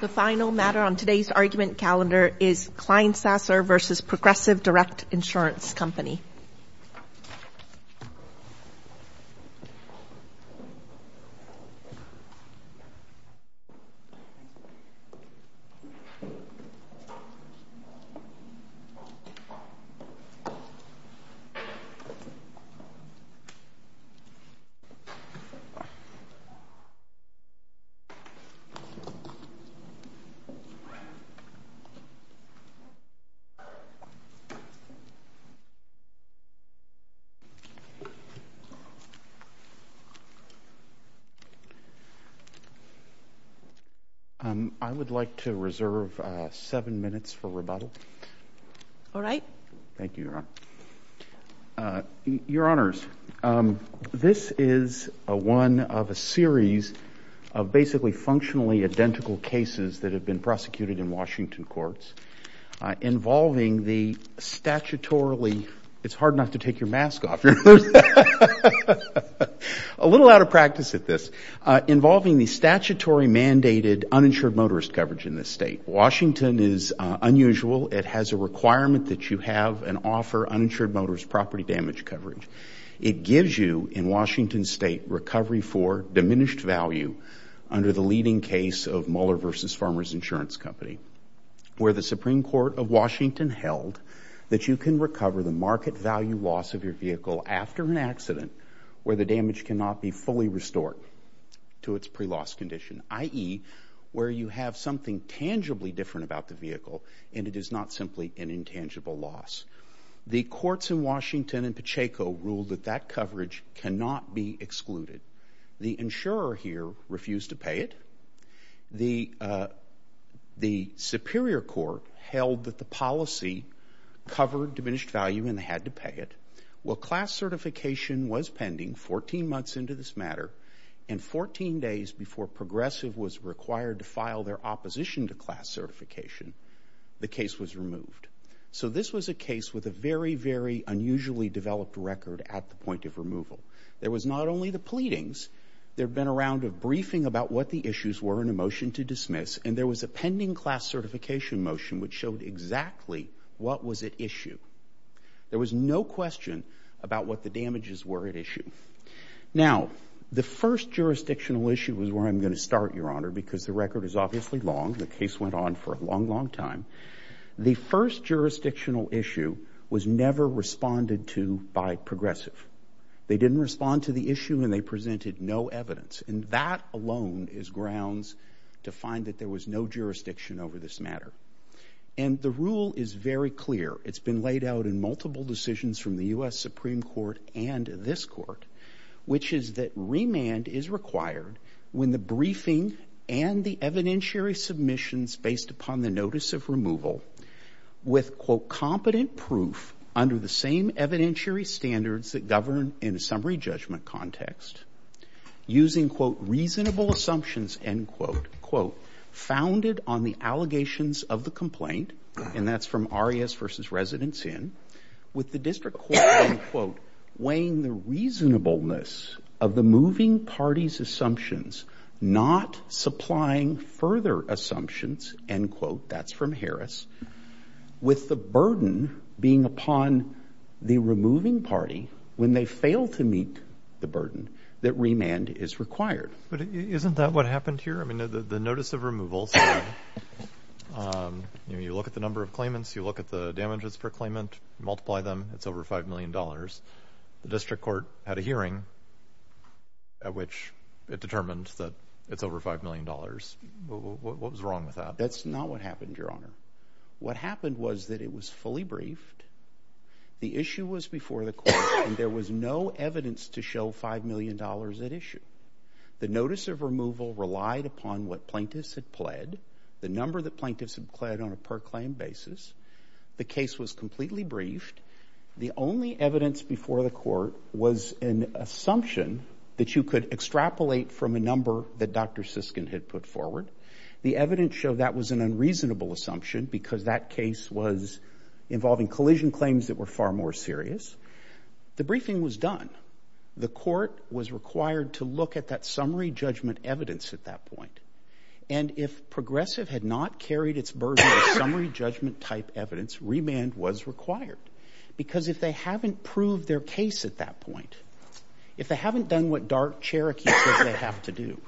The final matter on today's argument calendar is Kleinsasser v. Progressive Direct Insurance Company. I would like to reserve seven minutes for rebuttal. Alright. Thank you, Your Honor. Your Honors, this is one of a series of basically functionally identical cases that have been prosecuted in Washington courts involving the statutorily It's hard not to take your mask off. A little out of practice at this. Involving the statutory mandated uninsured motorist coverage in this state. Washington is unusual. It has a requirement that you have and offer uninsured motorist property damage coverage. It gives you, in Washington State, recovery for diminished value under the leading case of Mueller v. Farmer's Insurance Company where the Supreme Court of Washington held that you can recover the market value loss of your vehicle after an accident where the damage cannot be fully restored to its pre-loss condition, i.e., where you have something tangibly different about the vehicle and it is not simply an intangible loss. The courts in Washington and Pacheco ruled that that coverage cannot be excluded. The insurer here refused to pay it. The Superior Court held that the policy covered diminished value and they had to pay it. Well, class certification was pending 14 months into this matter and 14 days before Progressive was required to file their opposition to class certification, the case was removed. So this was a case with a very, very unusually developed record at the point of removal. There was not only the pleadings. There had been a round of briefing about what the issues were and a motion to dismiss and there was a pending class certification motion which showed exactly what was at issue. There was no question about what the damages were at issue. Now, the first jurisdictional issue is where I'm going to start, Your Honor, because the record is obviously long. The case went on for a long, long time. The first jurisdictional issue was never responded to by Progressive. They didn't respond to the issue and they presented no evidence and that alone is grounds to find that there was no jurisdiction over this matter. And the rule is very clear. It's been laid out in multiple decisions from the U.S. Supreme Court and this court, which is that remand is required when the briefing and the evidentiary submissions based upon the notice of removal with, quote, competent proof under the same evidentiary standards that govern in a summary judgment context using, quote, reasonable assumptions, end quote, founded on the allegations of the complaint, and that's from Arias v. Residence Inn, with the district court, end quote, weighing the reasonableness of the moving party's assumptions, not supplying further assumptions, end quote, that's from Harris, with the burden being upon the removing party when they fail to meet the burden that remand is required. But isn't that what happened here? I mean, the notice of removal, so you look at the number of claimants, you look at the damages per claimant, multiply them, it's over $5 million. The district court had a hearing at which it determined that it's over $5 million. What was wrong with that? That's not what happened, Your Honor. What happened was that it was fully briefed, the issue was before the court, and there was no evidence to show $5 million at issue. The notice of removal relied upon what plaintiffs had pled, the number that plaintiffs had pled on a per claim basis. The case was completely briefed. The only evidence before the court was an assumption that you could extrapolate from a number that Dr. Siskin had put forward. The evidence showed that was an unreasonable assumption because that case was involving collision claims that were far more serious. The briefing was done. The court was required to look at that summary judgment evidence at that point. And if Progressive had not carried its version of summary judgment type evidence, remand was required. Because if they haven't proved their case at that point, if they haven't done what Dark Cherokee says they have to do,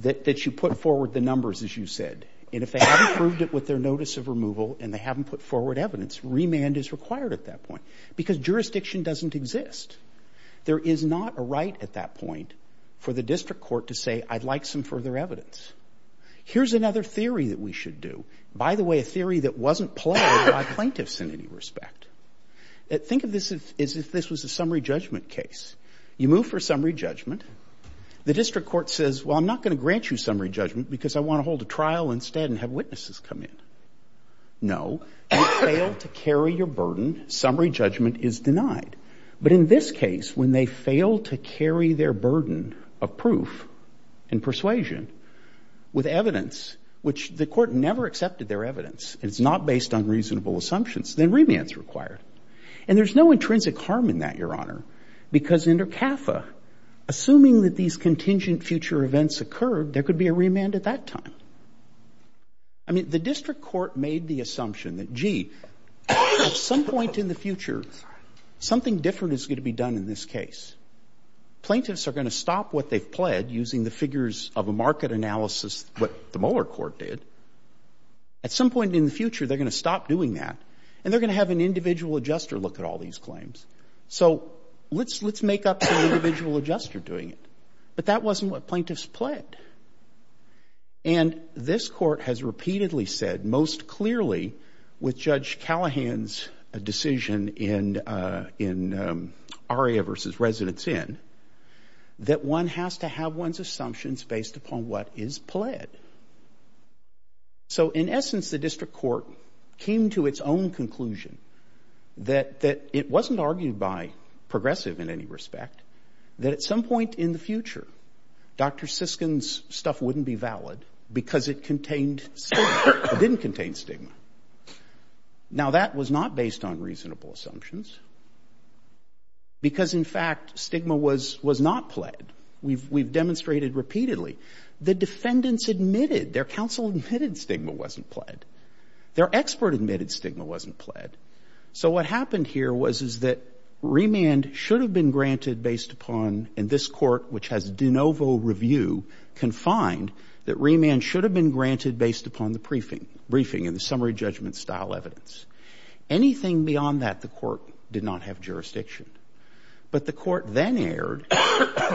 that you put forward the numbers, as you said, and if they haven't proved it with their notice of removal and they haven't put forward evidence, remand is required at that point. Because jurisdiction doesn't exist. There is not a right at that point for the district court to say, I'd like some further evidence. Here's another theory that we should do. By the way, a theory that wasn't pled by plaintiffs in any respect. Think of this as if this was a summary judgment case. You move for summary judgment. The district court says, well, I'm not going to grant you summary judgment because I want to hold a trial instead and have witnesses come in. No. You fail to carry your burden. Summary judgment is denied. But in this case, when they fail to carry their burden of proof and persuasion with evidence, which the Court never accepted their evidence, it's not based on reasonable assumptions, then remand is required. And there's no intrinsic harm in that, Your Honor, because under CAFA, assuming that these contingent future events occurred, there could be a remand at that time. I mean, the district court made the assumption that, gee, at some point in the future, something different is going to be done in this case. Plaintiffs are going to stop what they've pled using the figures of a market analysis, what the Mueller court did. At some point in the future, they're going to stop doing that, and they're going to have an individual adjuster look at all these claims. So let's make up an individual adjuster doing it. But that wasn't what plaintiffs pled. And this court has repeatedly said, most clearly, with Judge Callahan's decision in Aria v. Residence Inn, that one has to have one's assumptions based upon what is pled. So in essence, the district court came to its own conclusion that it wasn't argued by progressive in any respect, that at some point in the future, Dr. Siskin's stuff wouldn't be valid because it contained stigma. It didn't contain stigma. Now, that was not based on reasonable assumptions because, in fact, stigma was not pled. We've demonstrated repeatedly. The defendants admitted, their counsel admitted stigma wasn't pled. Their expert admitted stigma wasn't pled. So what happened here was that remand should have been granted based upon, and this Court, which has de novo review, can find that remand should have been granted based upon the briefing and the summary judgment style evidence. Anything beyond that, the Court did not have jurisdiction. But the Court then erred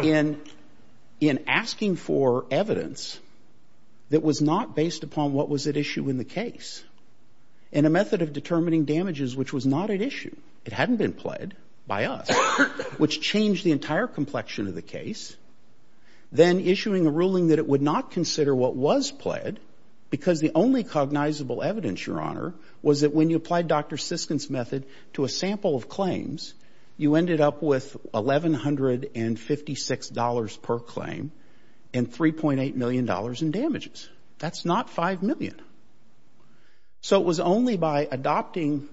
in asking for evidence that was not based upon what was at issue in the case and a method of determining damages which was not at issue. It hadn't been pled by us, which changed the entire complexion of the case. Then issuing a ruling that it would not consider what was pled because the only cognizable evidence, Your Honor, was that when you applied Dr. Siskin's method to a sample of claims, you ended up with $1,156 per claim and $3.8 million in damages. That's not $5 million. So it was only by adopting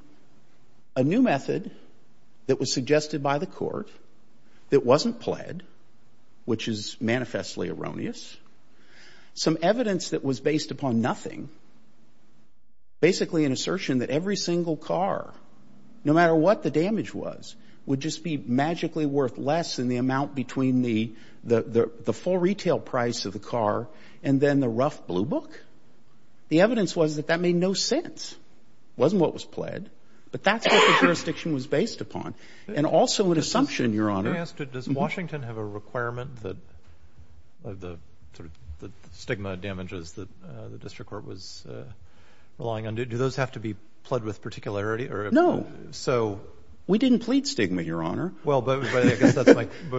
a new method that was suggested by the Court that wasn't pled, which is manifestly erroneous, some evidence that was based upon nothing, basically an assertion that every single car, no matter what the damage was, would just be magically worth less than the amount between the full retail price of the car and then the rough blue book. The evidence was that that made no sense. It wasn't what was pled. But that's what the jurisdiction was based upon. And also an assumption, Your Honor. Do I ask, does Washington have a requirement that the stigma damages that the district court was relying on, do those have to be pled with particularity? No. So we didn't plead stigma, Your Honor. Well, but I guess that's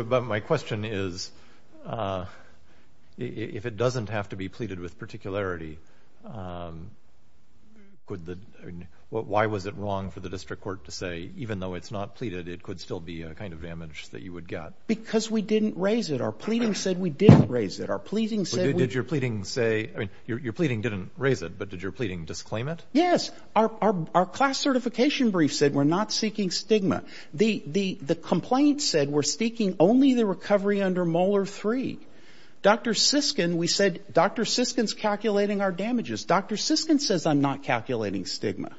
my question is, if it doesn't have to be pleaded with particularity, could the — why was it wrong for the district court to say, even though it's not pleaded, it could still be a kind of damage that you would get? Because we didn't raise it. Our pleading said we didn't raise it. Our pleading said we — Did your pleading say — I mean, your pleading didn't raise it, but did your pleading disclaim it? Yes. Our class certification brief said we're not seeking stigma. The complaint said we're seeking only the recovery under Molar III. Dr. Siskin, we said, Dr. Siskin's calculating our damages. Dr. Siskin says I'm not calculating stigma.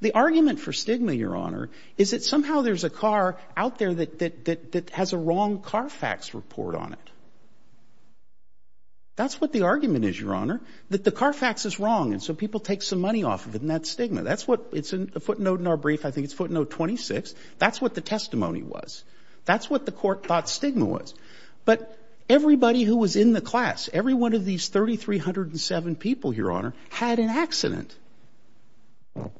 The argument for stigma, Your Honor, is that somehow there's a car out there that has a wrong CARFAX report on it. That's what the argument is, Your Honor, that the CARFAX is wrong, and so people take some money off of it, and that's stigma. That's what — it's a footnote in our brief. I think it's footnote 26. That's what the testimony was. That's what the court thought stigma was. But everybody who was in the class, every one of these 3,307 people, Your Honor, had an accident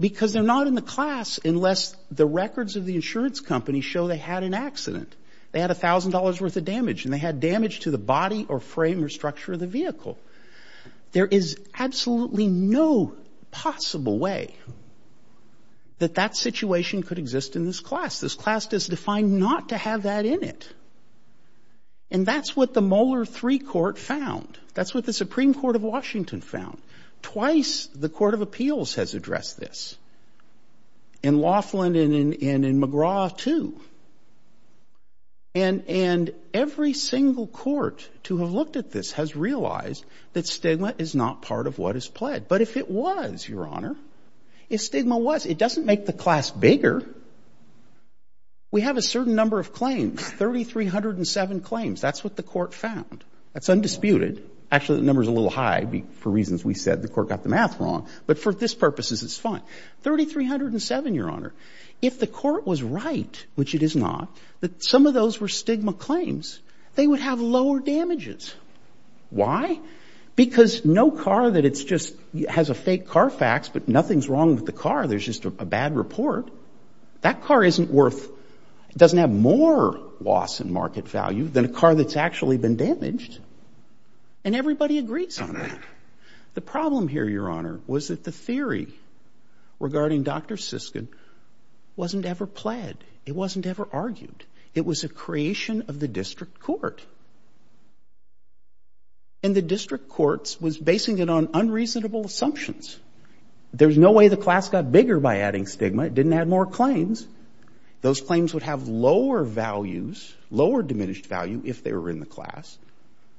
because they're not in the class unless the records of the insurance company show they had an accident. They had $1,000 worth of damage, and they had damage to the body or frame or structure of the vehicle. There is absolutely no possible way that that situation could exist in this class. This class is defined not to have that in it. And that's what the Mueller III court found. That's what the Supreme Court of Washington found. Twice the Court of Appeals has addressed this. In Laughlin and in McGraw too. And every single court to have looked at this has realized that stigma is not part of what is pled. But if it was, Your Honor, if stigma was, it doesn't make the class bigger. We have a certain number of claims, 3,307 claims. That's what the court found. That's undisputed. Actually, the number's a little high for reasons we said. The court got the math wrong. But for this purposes, it's fine. 3,307, Your Honor. If the court was right, which it is not, that some of those were stigma claims, they would have lower damages. Why? Because no car that it's just has a fake car fax, but nothing's wrong with the car. There's just a bad report. That car isn't worth, doesn't have more loss in market value than a car that's actually been damaged. And everybody agrees on that. The problem here, Your Honor, was that the theory regarding Dr. Siskin wasn't ever pled. It wasn't ever argued. It was a creation of the district court. And the district court was basing it on unreasonable assumptions. There's no way the class got bigger by adding stigma. It didn't add more claims. Those claims would have lower values, lower diminished value if they were in the class.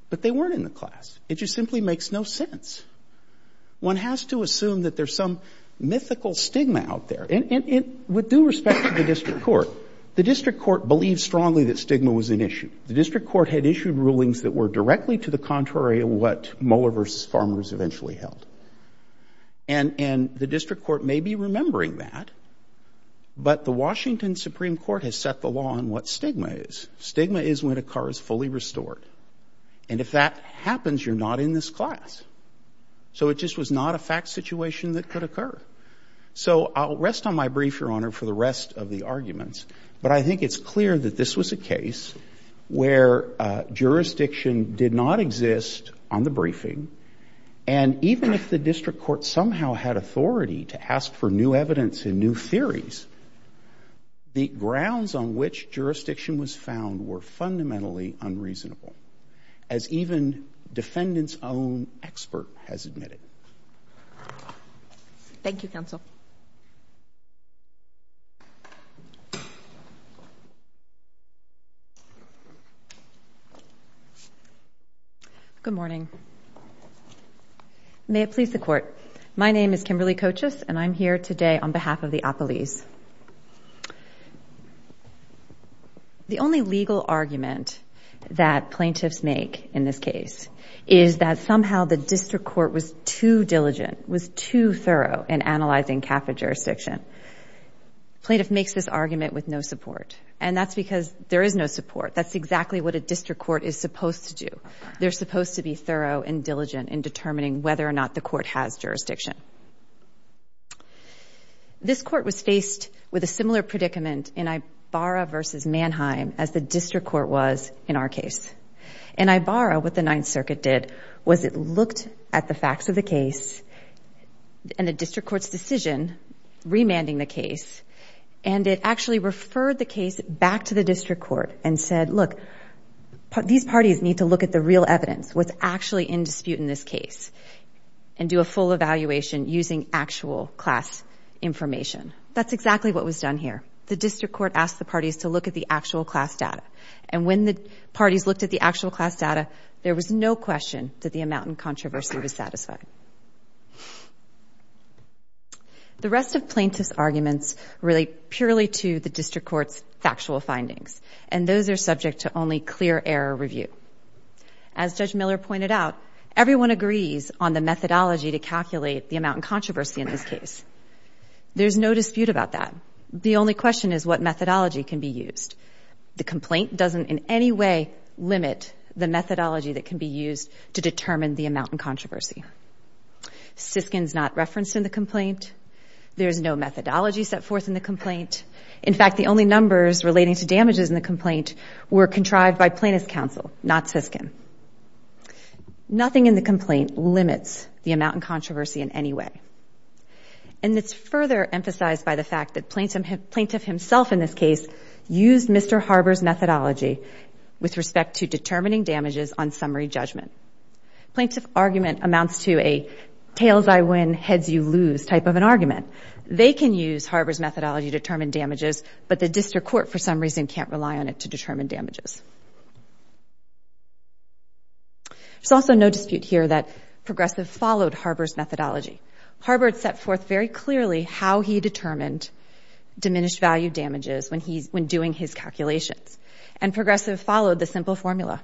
But they weren't in the class. It just simply makes no sense. One has to assume that there's some mythical stigma out there. And with due respect to the district court, the district court believed strongly that stigma was an issue. The district court had issued rulings that were directly to the contrary of what Moeller v. Farmers eventually held. And the district court may be remembering that, but the Washington Supreme Court has set the law on what stigma is. Stigma is when a car is fully restored. And if that happens, you're not in this class. So it just was not a fact situation that could occur. So I'll rest on my brief, Your Honor, for the rest of the arguments. But I think it's clear that this was a case where jurisdiction did not exist on the briefing. And even if the district court somehow had authority to ask for new evidence and new theories, the grounds on which jurisdiction was found were fundamentally unreasonable, as even defendant's own expert has admitted. Thank you, counsel. Good morning. May it please the Court. My name is Kimberly Kochus, and I'm here today on behalf of the appellees. The only legal argument that plaintiffs make in this case is that somehow the district court was too diligent, was too thorough in analyzing CAFA jurisdiction. Plaintiff makes this argument with no support. And that's because there is no support. That's exactly what a district court is supposed to do. They're supposed to be thorough and diligent in determining whether or not the court has jurisdiction. This court was faced with a similar predicament in Ibarra versus Mannheim as the district court was in our case. In Ibarra, what the Ninth Circuit did was it looked at the facts of the case and the district court's decision remanding the case, and it actually referred the case back to the district court and said, look, these parties need to look at the real evidence, what's actually in dispute in this case, and do a full evaluation using actual class information. That's exactly what was done here. The district court asked the parties to look at the actual class data. And when the parties looked at the actual class data, there was no question that the amount in controversy was satisfied. The rest of plaintiff's arguments relate purely to the district court's factual findings, and those are subject to only clear error review. As Judge Miller pointed out, everyone agrees on the methodology to calculate the amount in controversy in this case. There's no dispute about that. The only question is what methodology can be used. The complaint doesn't in any way limit the methodology that can be used to determine the amount in controversy. Siskin's not referenced in the complaint. There's no methodology set forth in the complaint. In fact, the only numbers relating to damages in the complaint were contrived by plaintiff's counsel, not Siskin. Nothing in the complaint limits the amount in controversy in any way. And it's further emphasized by the fact that plaintiff himself in this case used Mr. Harber's methodology with respect to determining damages on summary judgment. Plaintiff argument amounts to a tails-I-win, heads-you-lose type of an argument. They can use Harber's methodology to determine damages, but the district court, for some reason, can't rely on it to determine damages. There's also no dispute here that Progressive followed Harber's methodology. Harber had set forth very clearly how he determined diminished value damages when doing his calculations, and Progressive followed the simple formula.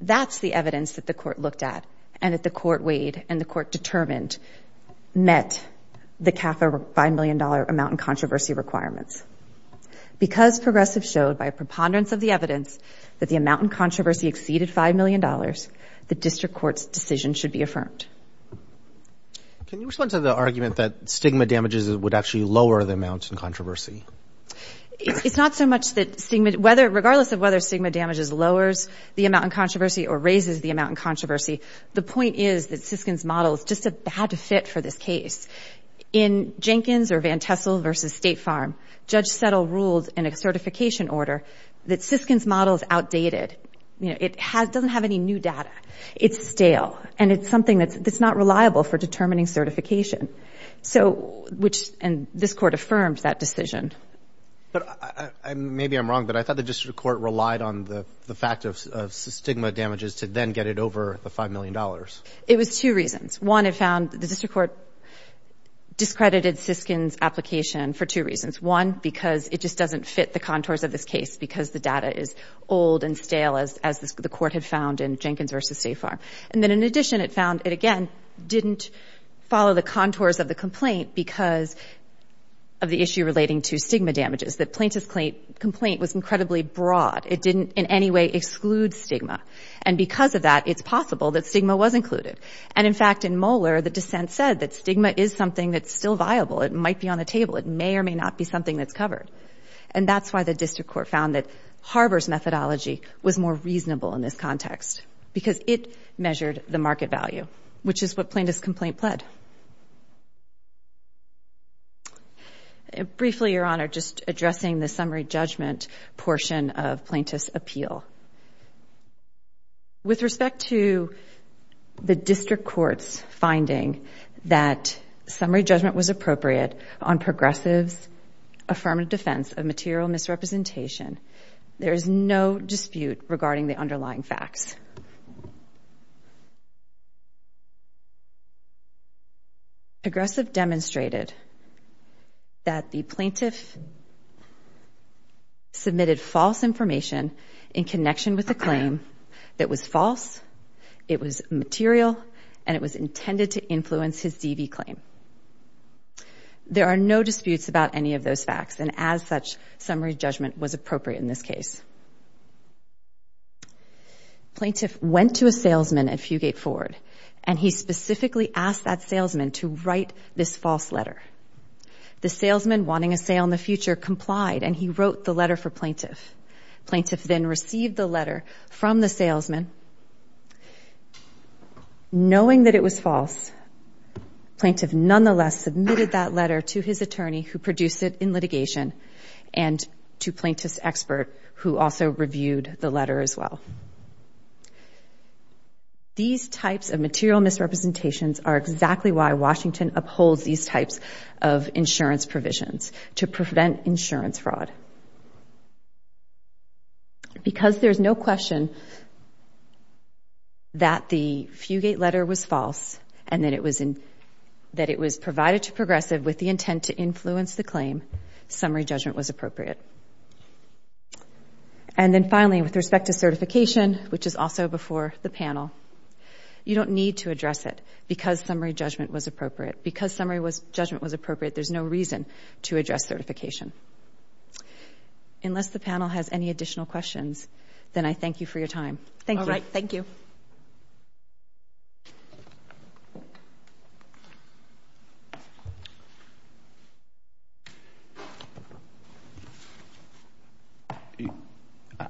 That's the evidence that the court looked at and that the court weighed and the court determined met the CAFA $5 million amount in controversy requirements. Because Progressive showed, by preponderance of the evidence, that the amount in controversy exceeded $5 million, the district court's decision should be affirmed. Can you respond to the argument that stigma damages would actually lower the amount in controversy? It's not so much that stigma-regardless of whether stigma damages lowers the amount in controversy or raises the amount in controversy, the point is that Siskin's model is just a bad fit for this case. In Jenkins or Van Tessel versus State Farm, Judge Settle ruled in a certification order that Siskin's model is outdated. It doesn't have any new data. It's stale, and it's something that's not reliable for determining certification. And this court affirmed that decision. Maybe I'm wrong, but I thought the district court relied on the fact of stigma damages to then get it over the $5 million. It was two reasons. One, it found the district court discredited Siskin's application for two reasons. One, because it just doesn't fit the contours of this case because the data is old and stale, as the court had found in Jenkins versus State Farm. And then, in addition, it found it, again, didn't follow the contours of the complaint because of the issue relating to stigma damages, that plaintiff's complaint was incredibly broad. It didn't in any way exclude stigma. And because of that, it's possible that stigma was included. And, in fact, in Moeller, the dissent said that stigma is something that's still viable. It might be on the table. It may or may not be something that's covered. And that's why the district court found that Harbor's methodology was more reasonable in this context because it measured the market value, which is what plaintiff's complaint pled. Briefly, Your Honor, just addressing the summary judgment portion of plaintiff's appeal. With respect to the district court's finding that summary judgment was appropriate on Progressive's affirmative defense of material misrepresentation, there is no dispute regarding the underlying facts. Progressive demonstrated that the plaintiff submitted false information in connection with a claim that was false, it was material, and it was intended to influence his DV claim. There are no disputes about any of those facts, and as such, summary judgment was appropriate in this case. Plaintiff went to a salesman at Fugate Ford, and he specifically asked that salesman to write this false letter. The salesman, wanting a sale in the future, complied, and he wrote the letter for plaintiff. Plaintiff then received the letter from the salesman. Knowing that it was false, plaintiff nonetheless submitted that letter to his attorney, who produced it in litigation, and to plaintiff's expert, who also reviewed the letter as well. These types of material misrepresentations are exactly why Washington upholds these types of insurance provisions to prevent insurance fraud. Because there's no question that the Fugate letter was false, and that it was provided to Progressive with the intent to influence the claim, summary judgment was appropriate. And then finally, with respect to certification, which is also before the panel, you don't need to address it because summary judgment was appropriate. Because summary judgment was appropriate, there's no reason to address certification. Unless the panel has any additional questions, then I thank you for your time. Thank you. All right. Thank you.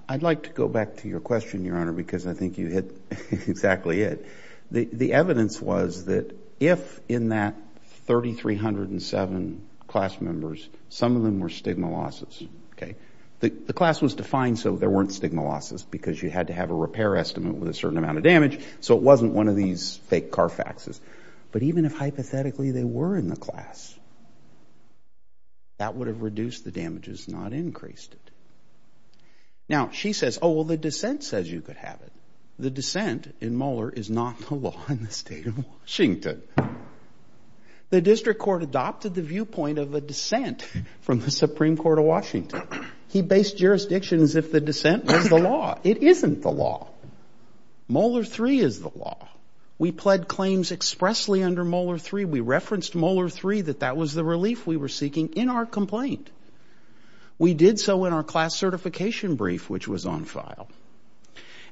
I'd like to go back to your question, Your Honor, because I think you hit exactly it. The evidence was that if in that 3,307 class members, some of them were stigma losses, okay? The class was defined so there weren't stigma losses, because you had to have a repair estimate with a certain amount of damage, so it wasn't one of these fake car faxes. But even if hypothetically they were in the class, that would have reduced the damages, not increased it. Now, she says, oh, well, the dissent says you could have it. The dissent in Mueller is not the law in the state of Washington. The district court adopted the viewpoint of a dissent from the Supreme Court of Washington. He based jurisdictions if the dissent was the law. It isn't the law. Mueller 3 is the law. We pled claims expressly under Mueller 3. We referenced Mueller 3, that that was the relief we were seeking in our complaint. We did so in our class certification brief, which was on file.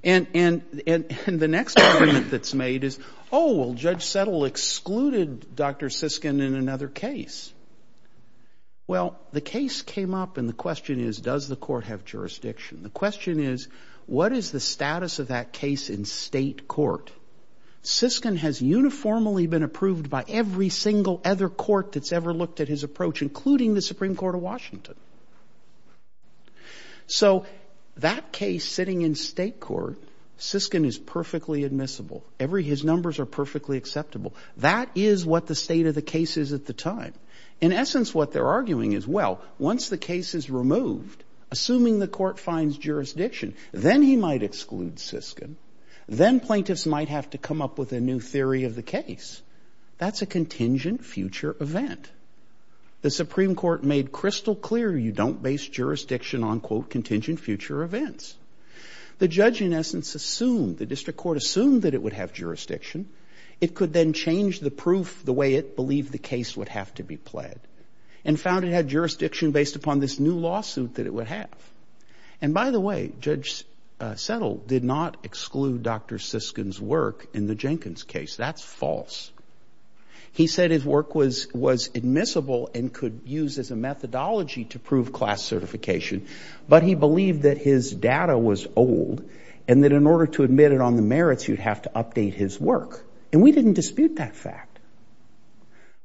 And the next argument that's made is, oh, well, Judge Settle excluded Dr. Siskin in another case. Well, the case came up, and the question is, does the court have jurisdiction? The question is, what is the status of that case in state court? Siskin has uniformly been approved by every single other court that's ever looked at his approach, including the Supreme Court of Washington. So that case sitting in state court, Siskin is perfectly admissible. His numbers are perfectly acceptable. That is what the state of the case is at the time. In essence, what they're arguing is, well, once the case is removed, assuming the court finds jurisdiction, then he might exclude Siskin. Then plaintiffs might have to come up with a new theory of the case. That's a contingent future event. The Supreme Court made crystal clear you don't base jurisdiction on, quote, contingent future events. The judge, in essence, assumed, the district court assumed that it would have jurisdiction. It could then change the proof the way it believed the case would have to be pled and found it had jurisdiction based upon this new lawsuit that it would have. And by the way, Judge Settle did not exclude Dr. Siskin's work in the Jenkins case. That's false. He said his work was admissible and could use as a methodology to prove class certification. But he believed that his data was old and that in order to admit it on the merits, you'd have to update his work. And we didn't dispute that fact.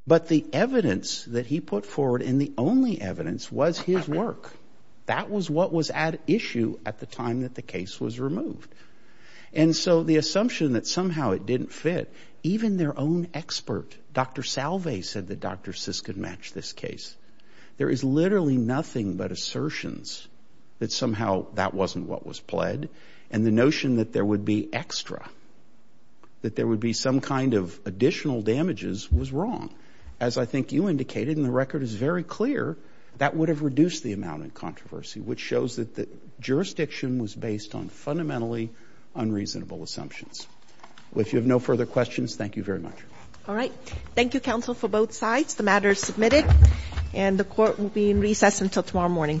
But the evidence that he put forward, and the only evidence, was his work. That was what was at issue at the time that the case was removed. And so the assumption that somehow it didn't fit, even their own expert, Dr. Salve, said that Dr. Siskin matched this case. There is literally nothing but assertions that somehow that wasn't what was pled. And the notion that there would be extra, that there would be some kind of additional damages, was wrong. As I think you indicated, and the record is very clear, that would have reduced the amount of controversy, which shows that the jurisdiction was based on fundamentally unreasonable assumptions. Well, if you have no further questions, thank you very much. All right. Thank you, counsel, for both sides. The matter is submitted. And the court will be in recess until tomorrow morning. All rise. The case is submitted.